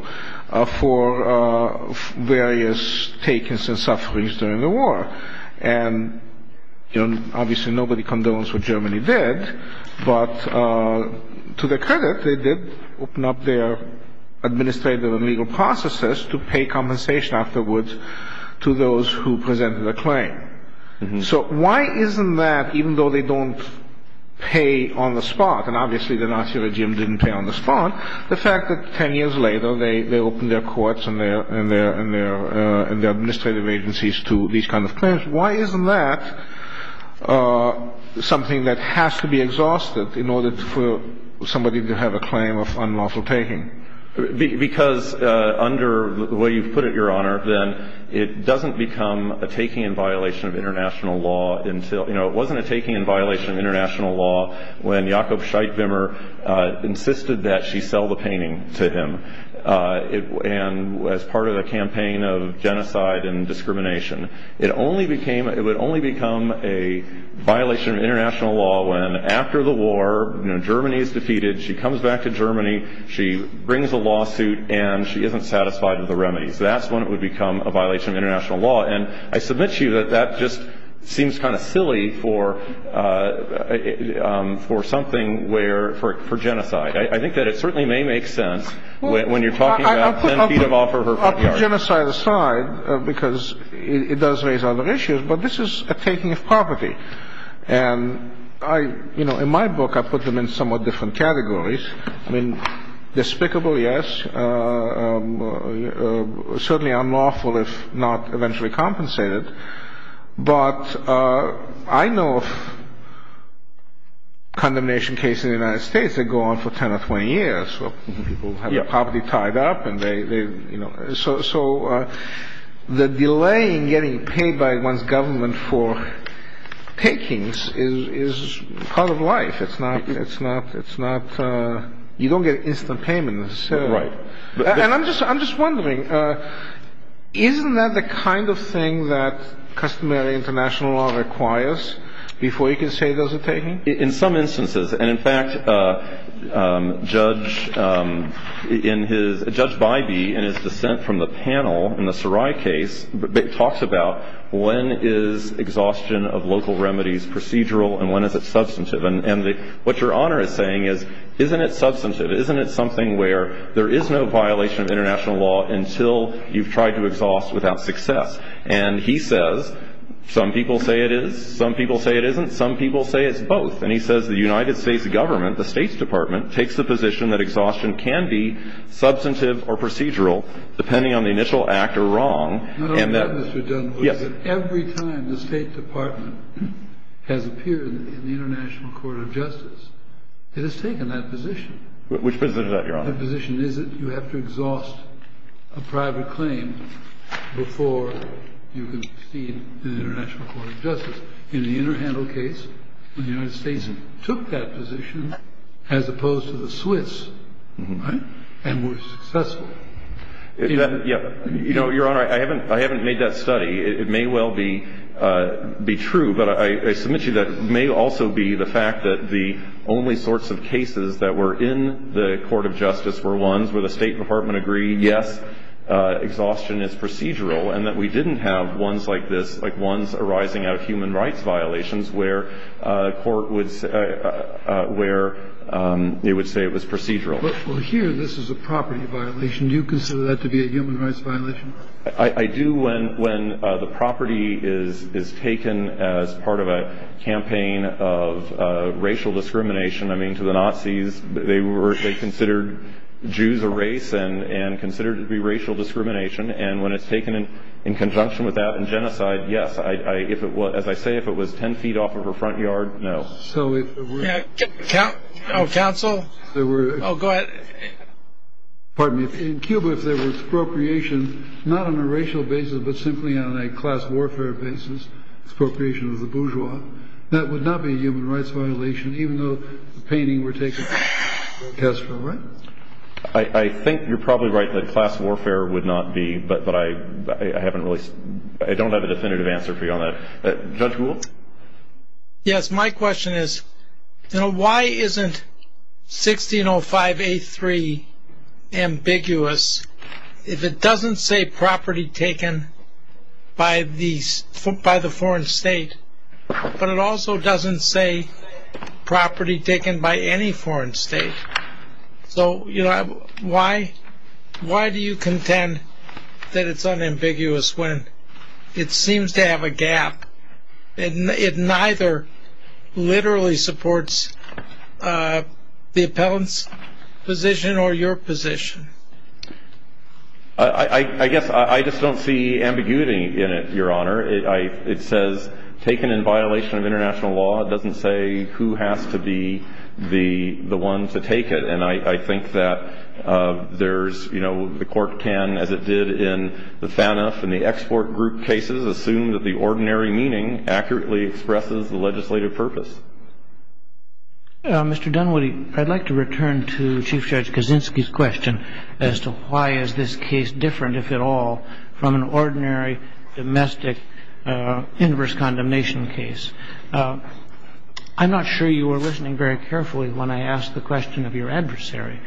for various takings and sufferings during the war. And, you know, obviously nobody condones what Germany did, but to their credit they did open up their administrative and legal processes to pay compensation afterwards to those who presented a claim. So why isn't that, even though they don't pay on the spot, and obviously the Nazi regime didn't pay on the spot, the fact that 10 years later they opened their courts and their administrative agencies to these kinds of claims, why isn't that something that has to be exhausted in order for somebody to have a claim of unlawful taking? Because under the way you've put it, Your Honor, then it doesn't become a taking in violation of international law until, you know, it wasn't a taking in violation of international law when Jakob Scheidt-Wimmer insisted that she sell the painting to him. And as part of the campaign of genocide and discrimination, it only became, it would only become a violation of international law when after the war, you know, Germany is defeated, she comes back to Germany, she brings a lawsuit, and she isn't satisfied with the remedies. That's when it would become a violation of international law. And I submit to you that that just seems kind of silly for something where, for genocide. I think that it certainly may make sense when you're talking about 10 feet off of her front yard. Well, I'll put genocide aside because it does raise other issues, but this is a taking of property. And I, you know, in my book I put them in somewhat different categories. I mean, despicable, yes, certainly unlawful if not eventually compensated. But I know of condemnation cases in the United States that go on for 10 or 20 years, where people have their property tied up and they, you know. So the delay in getting paid by one's government for takings is part of life. It's not, it's not, it's not, you don't get instant payments. Right. And I'm just, I'm just wondering, isn't that the kind of thing that customary international law requires before you can say there's a taking? In some instances. And, in fact, Judge, in his, Judge Bybee, in his dissent from the panel in the Sarai case, talks about when is exhaustion of local remedies procedural and when is it substantive. And what Your Honor is saying is, isn't it substantive? Isn't it something where there is no violation of international law until you've tried to exhaust without success? And he says, some people say it is, some people say it isn't, some people say it's both. And he says the United States government, the State's Department, takes the position that exhaustion can be substantive or procedural depending on the initial act or wrong. Yes. Every time the State Department has appeared in the International Court of Justice, it has taken that position. Which position is that, Your Honor? The position is that you have to exhaust a private claim before you can proceed to the International Court of Justice. In the Interhandle case, the United States took that position as opposed to the Swiss, right, and were successful. You know, Your Honor, I haven't made that study. It may well be true. But I submit to you that it may also be the fact that the only sorts of cases that were in the Court of Justice were ones where the State Department agreed, yes, exhaustion is procedural, and that we didn't have ones like this, like ones arising out of human rights violations, where a court would say it was procedural. Well, here this is a property violation. Do you consider that to be a human rights violation? I do. When the property is taken as part of a campaign of racial discrimination, I mean, to the Nazis, they considered Jews a race and considered it to be racial discrimination. And when it's taken in conjunction with that in genocide, yes. As I say, if it was 10 feet off of a front yard, no. Counsel? Oh, go ahead. Pardon me. In Cuba, if there was expropriation, not on a racial basis, but simply on a class warfare basis, expropriation of the bourgeois, that would not be a human rights violation, even though the painting were taken as for a right? I think you're probably right that class warfare would not be, but I haven't really – I don't have a definitive answer for you on that. Judge Gould? Yes, my question is, you know, why isn't 1605A3 ambiguous if it doesn't say property taken by the foreign state, but it also doesn't say property taken by any foreign state? So, you know, why do you contend that it's unambiguous when it seems to have a gap and it neither literally supports the appellant's position or your position? I guess I just don't see ambiguity in it, Your Honor. It says taken in violation of international law. It doesn't say who has to be the one to take it, and I think that there's, you know, the court can, as it did in the THANF and the export group cases, assume that the ordinary meaning accurately expresses the legislative purpose. Mr. Dunwoody, I'd like to return to Chief Judge Kaczynski's question as to why is this case different, if at all, from an ordinary domestic inverse condemnation case. I'm not sure you were listening very carefully when I asked the question of your adversary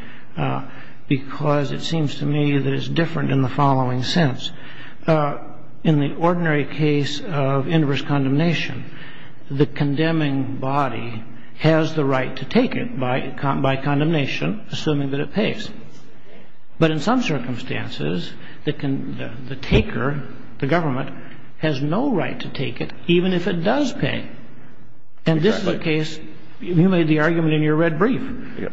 because it seems to me that it's different in the following sense. In the ordinary case of inverse condemnation, the condemning body has the right to take it by condemnation, assuming that it pays. But in some circumstances, the taker, the government, has no right to take it even if it does pay. And this is a case you made the argument in your red brief.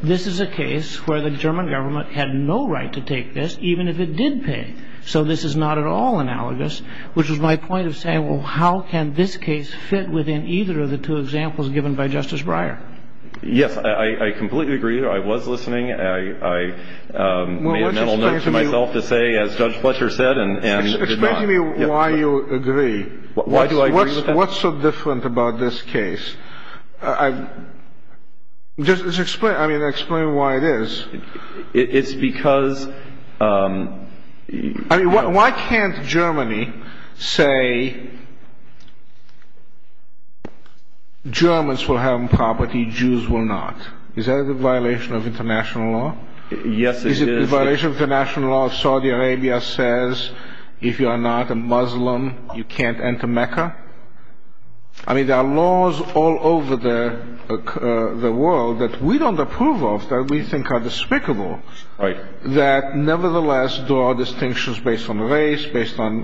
This is a case where the German government had no right to take this, even if it did pay. So this is not at all analogous, which was my point of saying, well, how can this case fit within either of the two examples given by Justice Breyer? Yes, I completely agree. I was listening. I made a mental note to myself to say, as Judge Fletcher said, and did not. Explain to me why you agree. Why do I agree with that? What's so different about this case? Just explain, I mean, explain why it is. It's because... I mean, why can't Germany say Germans will have property, Jews will not? Is that a violation of international law? Yes, it is. Is it a violation of international law if Saudi Arabia says if you are not a Muslim, you can't enter Mecca? I mean, there are laws all over the world that we don't approve of, that we think are despicable. Right. That nevertheless draw distinctions based on race, based on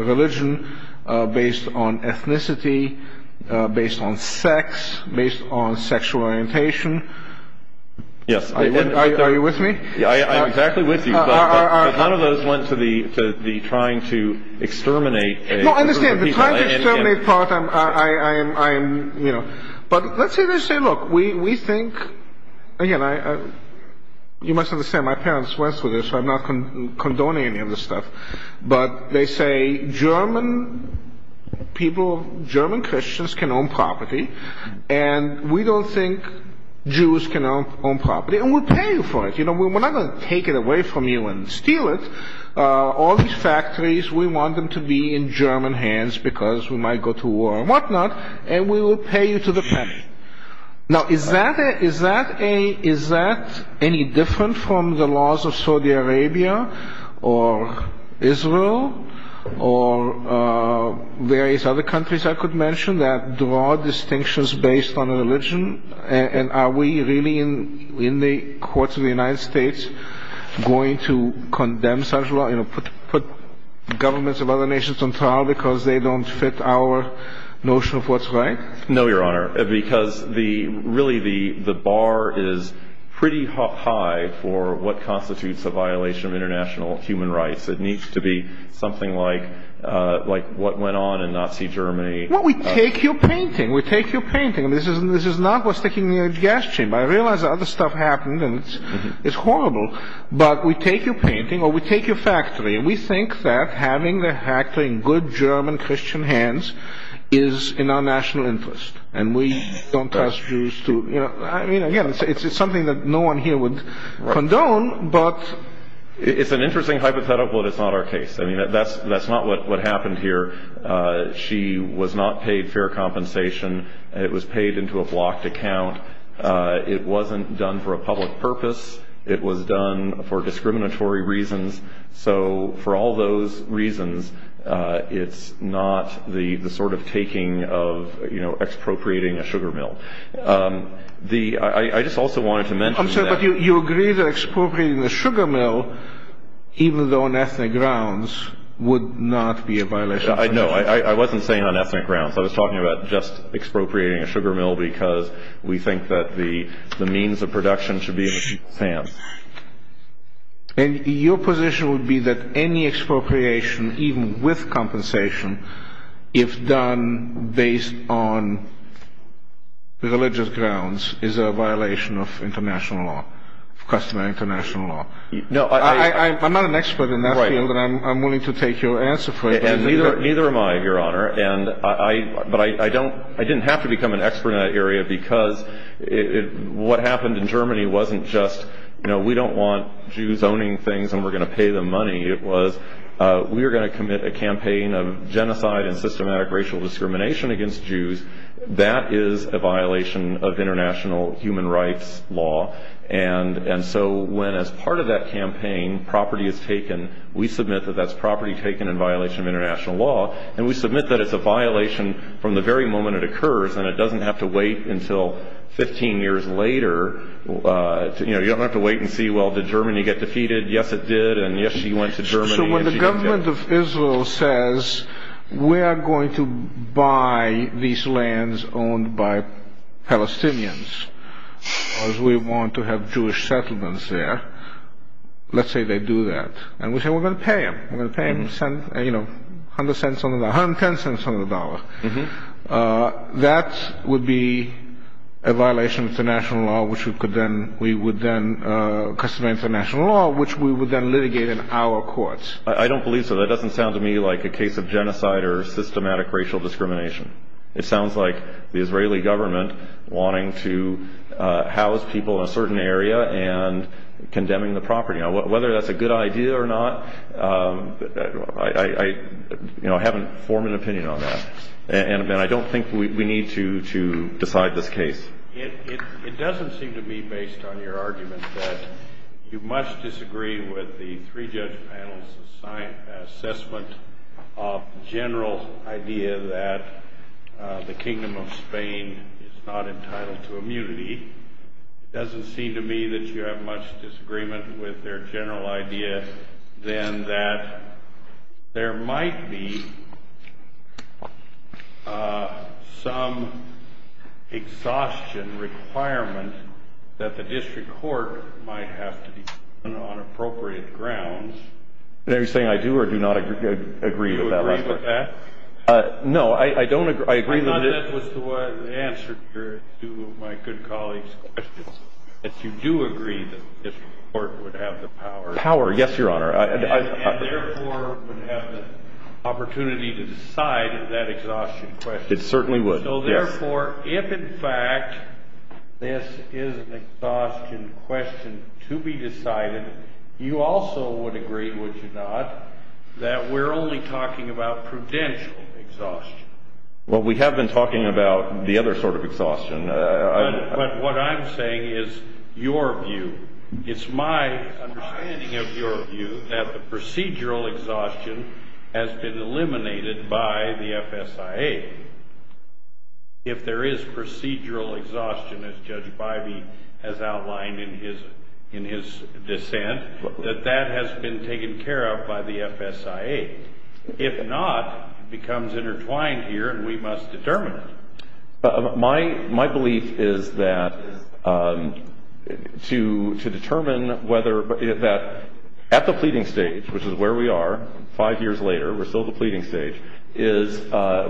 religion, based on ethnicity, based on sex, based on sexual orientation. Yes. Are you with me? I'm exactly with you, but none of those went to the trying to exterminate a group of people. No, I understand. The trying to exterminate part, I am, you know... But let's say they say, look, we think... Again, you must understand, my parents went through this, so I'm not condoning any of this stuff. But they say German people, German Christians can own property, and we don't think Jews can own property. And we'll pay you for it. We're not going to take it away from you and steal it. All these factories, we want them to be in German hands because we might go to war and whatnot, and we will pay you to the penny. Now, is that any different from the laws of Saudi Arabia or Israel or various other countries I could mention that draw distinctions based on religion? And are we really, in the courts of the United States, going to condemn such law, put governments of other nations on trial because they don't fit our notion of what's right? No, Your Honor, because really the bar is pretty high for what constitutes a violation of international human rights. It needs to be something like what went on in Nazi Germany. Well, we take your painting. We take your painting. This is not what's sticking in your gas chamber. I realize other stuff happened, and it's horrible. But we take your painting, or we take your factory, and we think that having the factory in good German Christian hands is in our national interest. And we don't ask Jews to... I mean, again, it's something that no one here would condone, but... It's an interesting hypothetical, but it's not our case. I mean, that's not what happened here. She was not paid fair compensation. It was paid into a blocked account. It wasn't done for a public purpose. It was done for discriminatory reasons. So for all those reasons, it's not the sort of taking of expropriating a sugar mill. I just also wanted to mention that... I'm sorry, but you agree that expropriating a sugar mill, even though on ethnic grounds, would not be a violation of human rights? No, I wasn't saying on ethnic grounds. I was talking about just expropriating a sugar mill because we think that the means of production should be in the hands. And your position would be that any expropriation, even with compensation, if done based on religious grounds, is a violation of international law, customary international law? No, I... I'm not an expert in that field, and I'm willing to take your answer for it. Neither am I, Your Honor. But I didn't have to become an expert in that area because what happened in Germany wasn't just, you know, we don't want Jews owning things and we're going to pay them money. It was we were going to commit a campaign of genocide and systematic racial discrimination against Jews. That is a violation of international human rights law. And so when, as part of that campaign, property is taken, we submit that that's property taken in violation of international law. And we submit that it's a violation from the very moment it occurs, and it doesn't have to wait until 15 years later. You know, you don't have to wait and see, well, did Germany get defeated? Yes, it did, and yes, she went to Germany... So when the government of Israel says we are going to buy these lands owned by Palestinians because we want to have Jewish settlements there, let's say they do that. And we say we're going to pay them. We're going to pay them a hundred cents on the dollar, 110 cents on the dollar. That would be a violation of international law, which we could then we would then customize international law, which we would then litigate in our courts. I don't believe so. That doesn't sound to me like a case of genocide or systematic racial discrimination. It sounds like the Israeli government wanting to house people in a certain area and condemning the property. Whether that's a good idea or not, I haven't formed an opinion on that, and I don't think we need to decide this case. It doesn't seem to me, based on your argument, that you much disagree with the three-judge panel's assessment of the general idea that the Kingdom of Spain is not entitled to immunity. It doesn't seem to me that you have much disagreement with their general idea, then, that there might be some exhaustion requirement that the district court might have to be given on appropriate grounds. Are you saying I do or do not agree with that? Do you agree with that? No, I don't agree. I agree. Your Honor, that was the answer to two of my good colleagues' questions, that you do agree that the district court would have the power. Power, yes, Your Honor. And therefore would have the opportunity to decide that exhaustion question. It certainly would, yes. So therefore, if in fact this is an exhaustion question to be decided, you also would agree, would you not, that we're only talking about prudential exhaustion? Well, we have been talking about the other sort of exhaustion. But what I'm saying is your view. It's my understanding of your view that the procedural exhaustion has been eliminated by the FSIA. If there is procedural exhaustion, as Judge Bybee has outlined in his dissent, that that has been taken care of by the FSIA. If not, it becomes intertwined here and we must determine it. My belief is that to determine whether that at the pleading stage, which is where we are, five years later, we're still at the pleading stage, is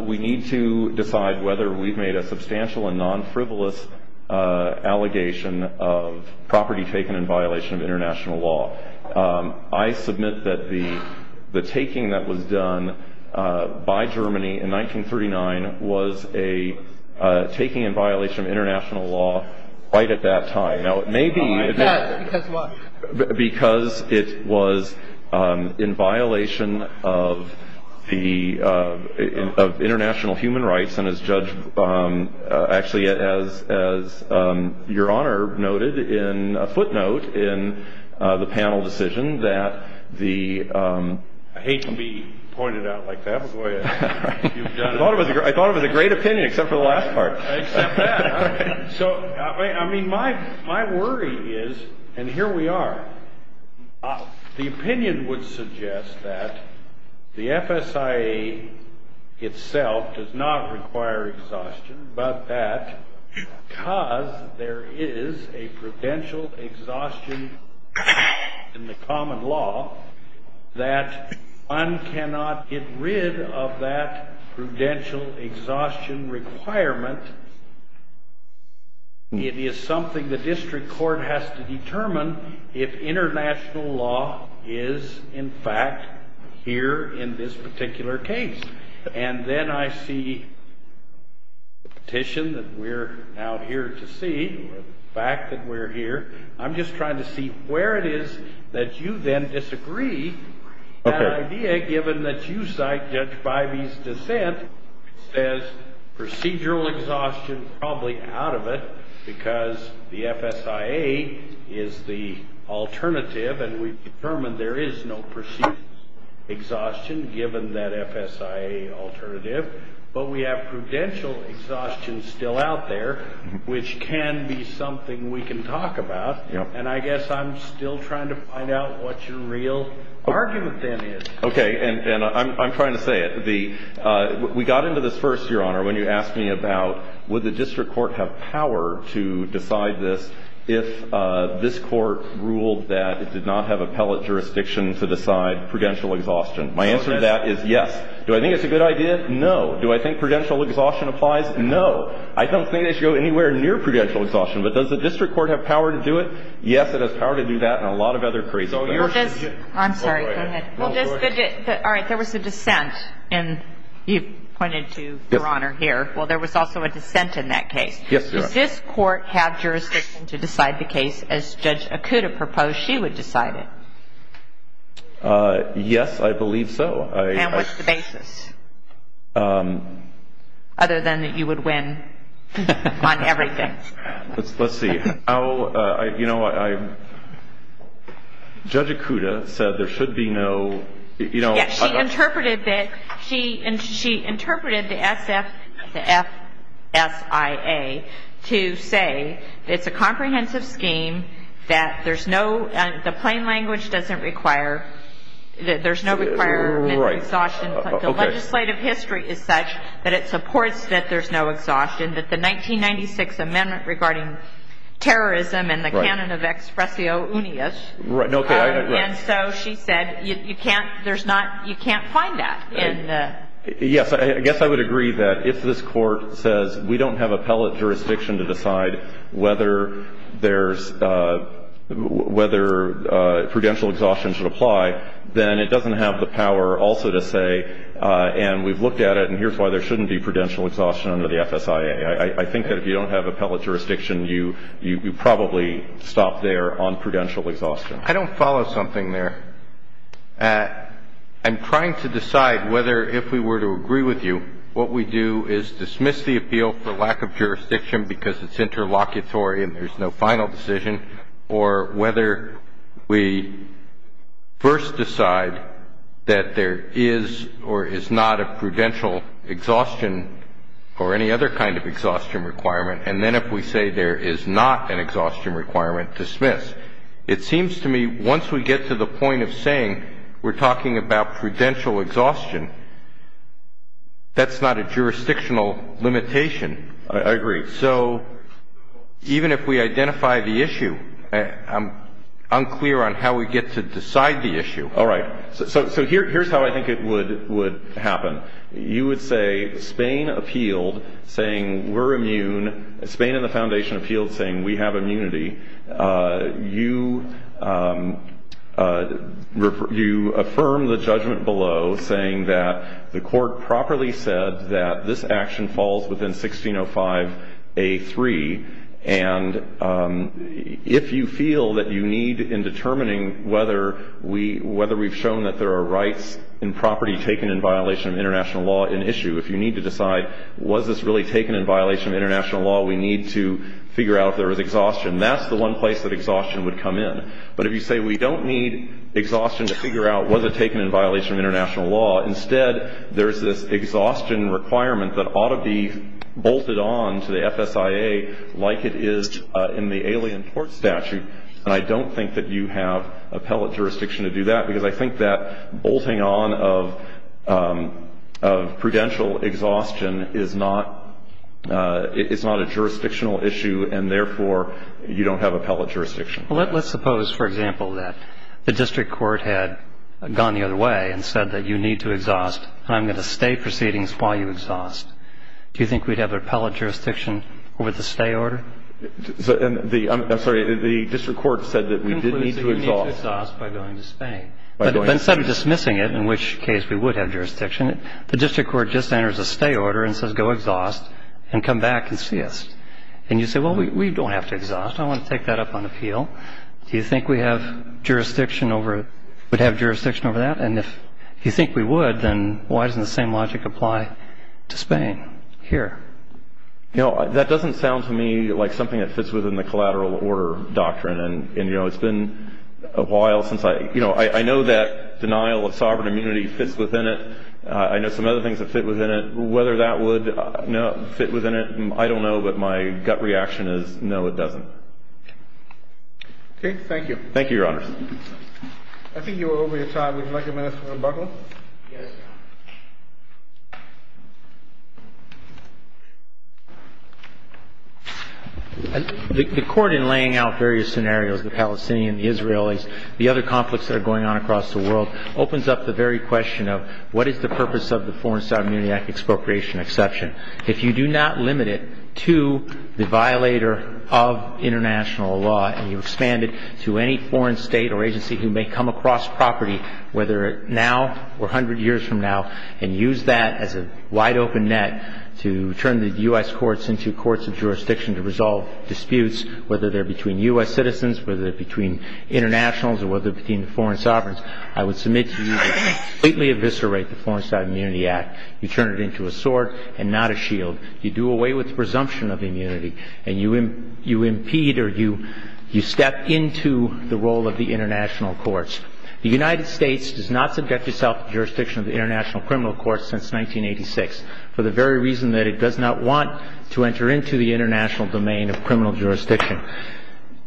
we need to decide whether we've made a substantial and non-frivolous allegation of property taken in violation of international law. I submit that the taking that was done by Germany in 1939 was a taking in violation of international law right at that time. Yes, because what? Because it was in violation of international human rights. And as Judge, actually as Your Honor noted in a footnote in the panel decision that the... I hate to be pointed out like that, but go ahead. I thought it was a great opinion except for the last part. I accept that. So, I mean, my worry is, and here we are, the opinion would suggest that the FSIA itself does not require exhaustion, but that because there is a prudential exhaustion in the common law, that one cannot get rid of that prudential exhaustion requirement. It is something the district court has to determine if international law is, in fact, here in this particular case. And then I see the petition that we're now here to see, or the fact that we're here. I'm just trying to see where it is that you then disagree. That idea, given that you cite Judge Bivey's dissent, says procedural exhaustion is probably out of it because the FSIA is the alternative, and we've determined there is no procedural exhaustion given that FSIA alternative. But we have prudential exhaustion still out there, which can be something we can talk about. And I guess I'm still trying to find out what your real argument then is. Okay. And I'm trying to say it. We got into this first, Your Honor, when you asked me about would the district court have power to decide this if this court ruled that it did not have appellate jurisdiction to decide prudential exhaustion. My answer to that is yes. Do I think it's a good idea? No. Do I think prudential exhaustion applies? No. I don't think it should go anywhere near prudential exhaustion. But does the district court have power to do it? Yes, it has power to do that and a lot of other crazy things. I'm sorry. Go ahead. All right. There was a dissent, and you pointed to, Your Honor, here. Well, there was also a dissent in that case. Yes, Your Honor. Does this court have jurisdiction to decide the case as Judge Okuda proposed she would decide it? Yes, I believe so. And what's the basis other than that you would win on everything? Let's see. You know, Judge Okuda said there should be no, you know. Yes, she interpreted that. She interpreted the FSIA to say it's a comprehensive scheme, that there's no, the plain language doesn't require, there's no requirement for exhaustion. The legislative history is such that it supports that there's no exhaustion, that the 1996 amendment regarding terrorism and the canon of expressio unius. And so she said you can't, there's not, you can't find that. Yes, I guess I would agree that if this court says we don't have appellate jurisdiction to decide whether there's, whether prudential exhaustion should apply, then it doesn't have the power also to say, and we've looked at it, and here's why there shouldn't be prudential exhaustion under the FSIA. I think that if you don't have appellate jurisdiction, you probably stop there on prudential exhaustion. I don't follow something there. I'm trying to decide whether if we were to agree with you, what we do is dismiss the appeal for lack of jurisdiction because it's interlocutory and there's no final decision, or whether we first decide that there is or is not a prudential exhaustion or any other kind of exhaustion requirement, and then if we say there is not an exhaustion requirement, dismiss. It seems to me once we get to the point of saying we're talking about prudential exhaustion, that's not a jurisdictional limitation. I agree. So even if we identify the issue, I'm unclear on how we get to decide the issue. All right. So here's how I think it would happen. You would say Spain appealed saying we're immune. Spain and the foundation appealed saying we have immunity. You affirm the judgment below saying that the court properly said that this action falls within 1605A3, and if you feel that you need in determining whether we've shown that there are rights and property taken in violation of international law in issue, if you need to decide was this really taken in violation of international law, we need to figure out if there was exhaustion. That's the one place that exhaustion would come in. But if you say we don't need exhaustion to figure out was it taken in violation of international law, instead there's this exhaustion requirement that ought to be bolted on to the FSIA like it is in the alien court statute, and I don't think that you have appellate jurisdiction to do that, because I think that bolting on of prudential exhaustion is not a jurisdictional issue, and therefore you don't have appellate jurisdiction. Well, let's suppose, for example, that the district court had gone the other way and said that you need to exhaust and I'm going to stay proceedings while you exhaust. Do you think we'd have appellate jurisdiction over the stay order? I'm sorry. The district court said that we did need to exhaust. We did need to exhaust by going to Spain. But instead of dismissing it, in which case we would have jurisdiction, the district court just enters a stay order and says go exhaust and come back and see us. And you say, well, we don't have to exhaust. I want to take that up on appeal. Do you think we would have jurisdiction over that? And if you think we would, then why doesn't the same logic apply to Spain here? You know, that doesn't sound to me like something that fits within the collateral order doctrine, and, you know, it's been a while since I – you know, I know that denial of sovereign immunity fits within it. I know some other things that fit within it. Whether that would fit within it, I don't know, but my gut reaction is no, it doesn't. Okay. Thank you. Thank you, Your Honor. I think you are over your time. Would you like a minute for rebuttal? Yes. The court in laying out various scenarios, the Palestinians, the Israelis, the other conflicts that are going on across the world, opens up the very question of what is the purpose of the Foreign Sovereign Immunity Act expropriation exception. If you do not limit it to the violator of international law and you expand it to any foreign state or agency who may come across property, whether now or 100 years from now, and use that as a wide-open net to turn the U.S. courts into courts of jurisdiction to resolve disputes, whether they're between U.S. citizens, whether they're between internationals, or whether they're between the foreign sovereigns, I would submit to you to completely eviscerate the Foreign Sovereign Immunity Act. You turn it into a sword and not a shield. You do away with the presumption of immunity, and you impede or you step into the role of the international courts. The United States does not subject itself to jurisdiction of the International Criminal Court since 1986, for the very reason that it does not want to enter into the international domain of criminal jurisdiction.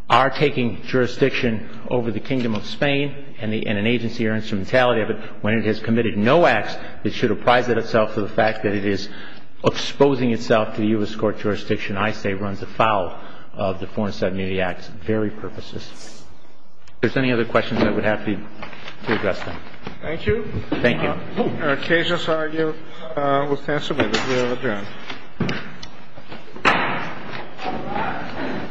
Our taking jurisdiction over the Kingdom of Spain and an agency or instrumentality of it, when it has committed no acts, it should apprise itself of the fact that it is exposing itself to the U.S. court jurisdiction I say runs afoul of the Foreign Sovereign Immunity Act's very purposes. If there's any other questions, I would be happy to address them. Thank you. Thank you. Our cases are here. We can submit it. We are adjourned.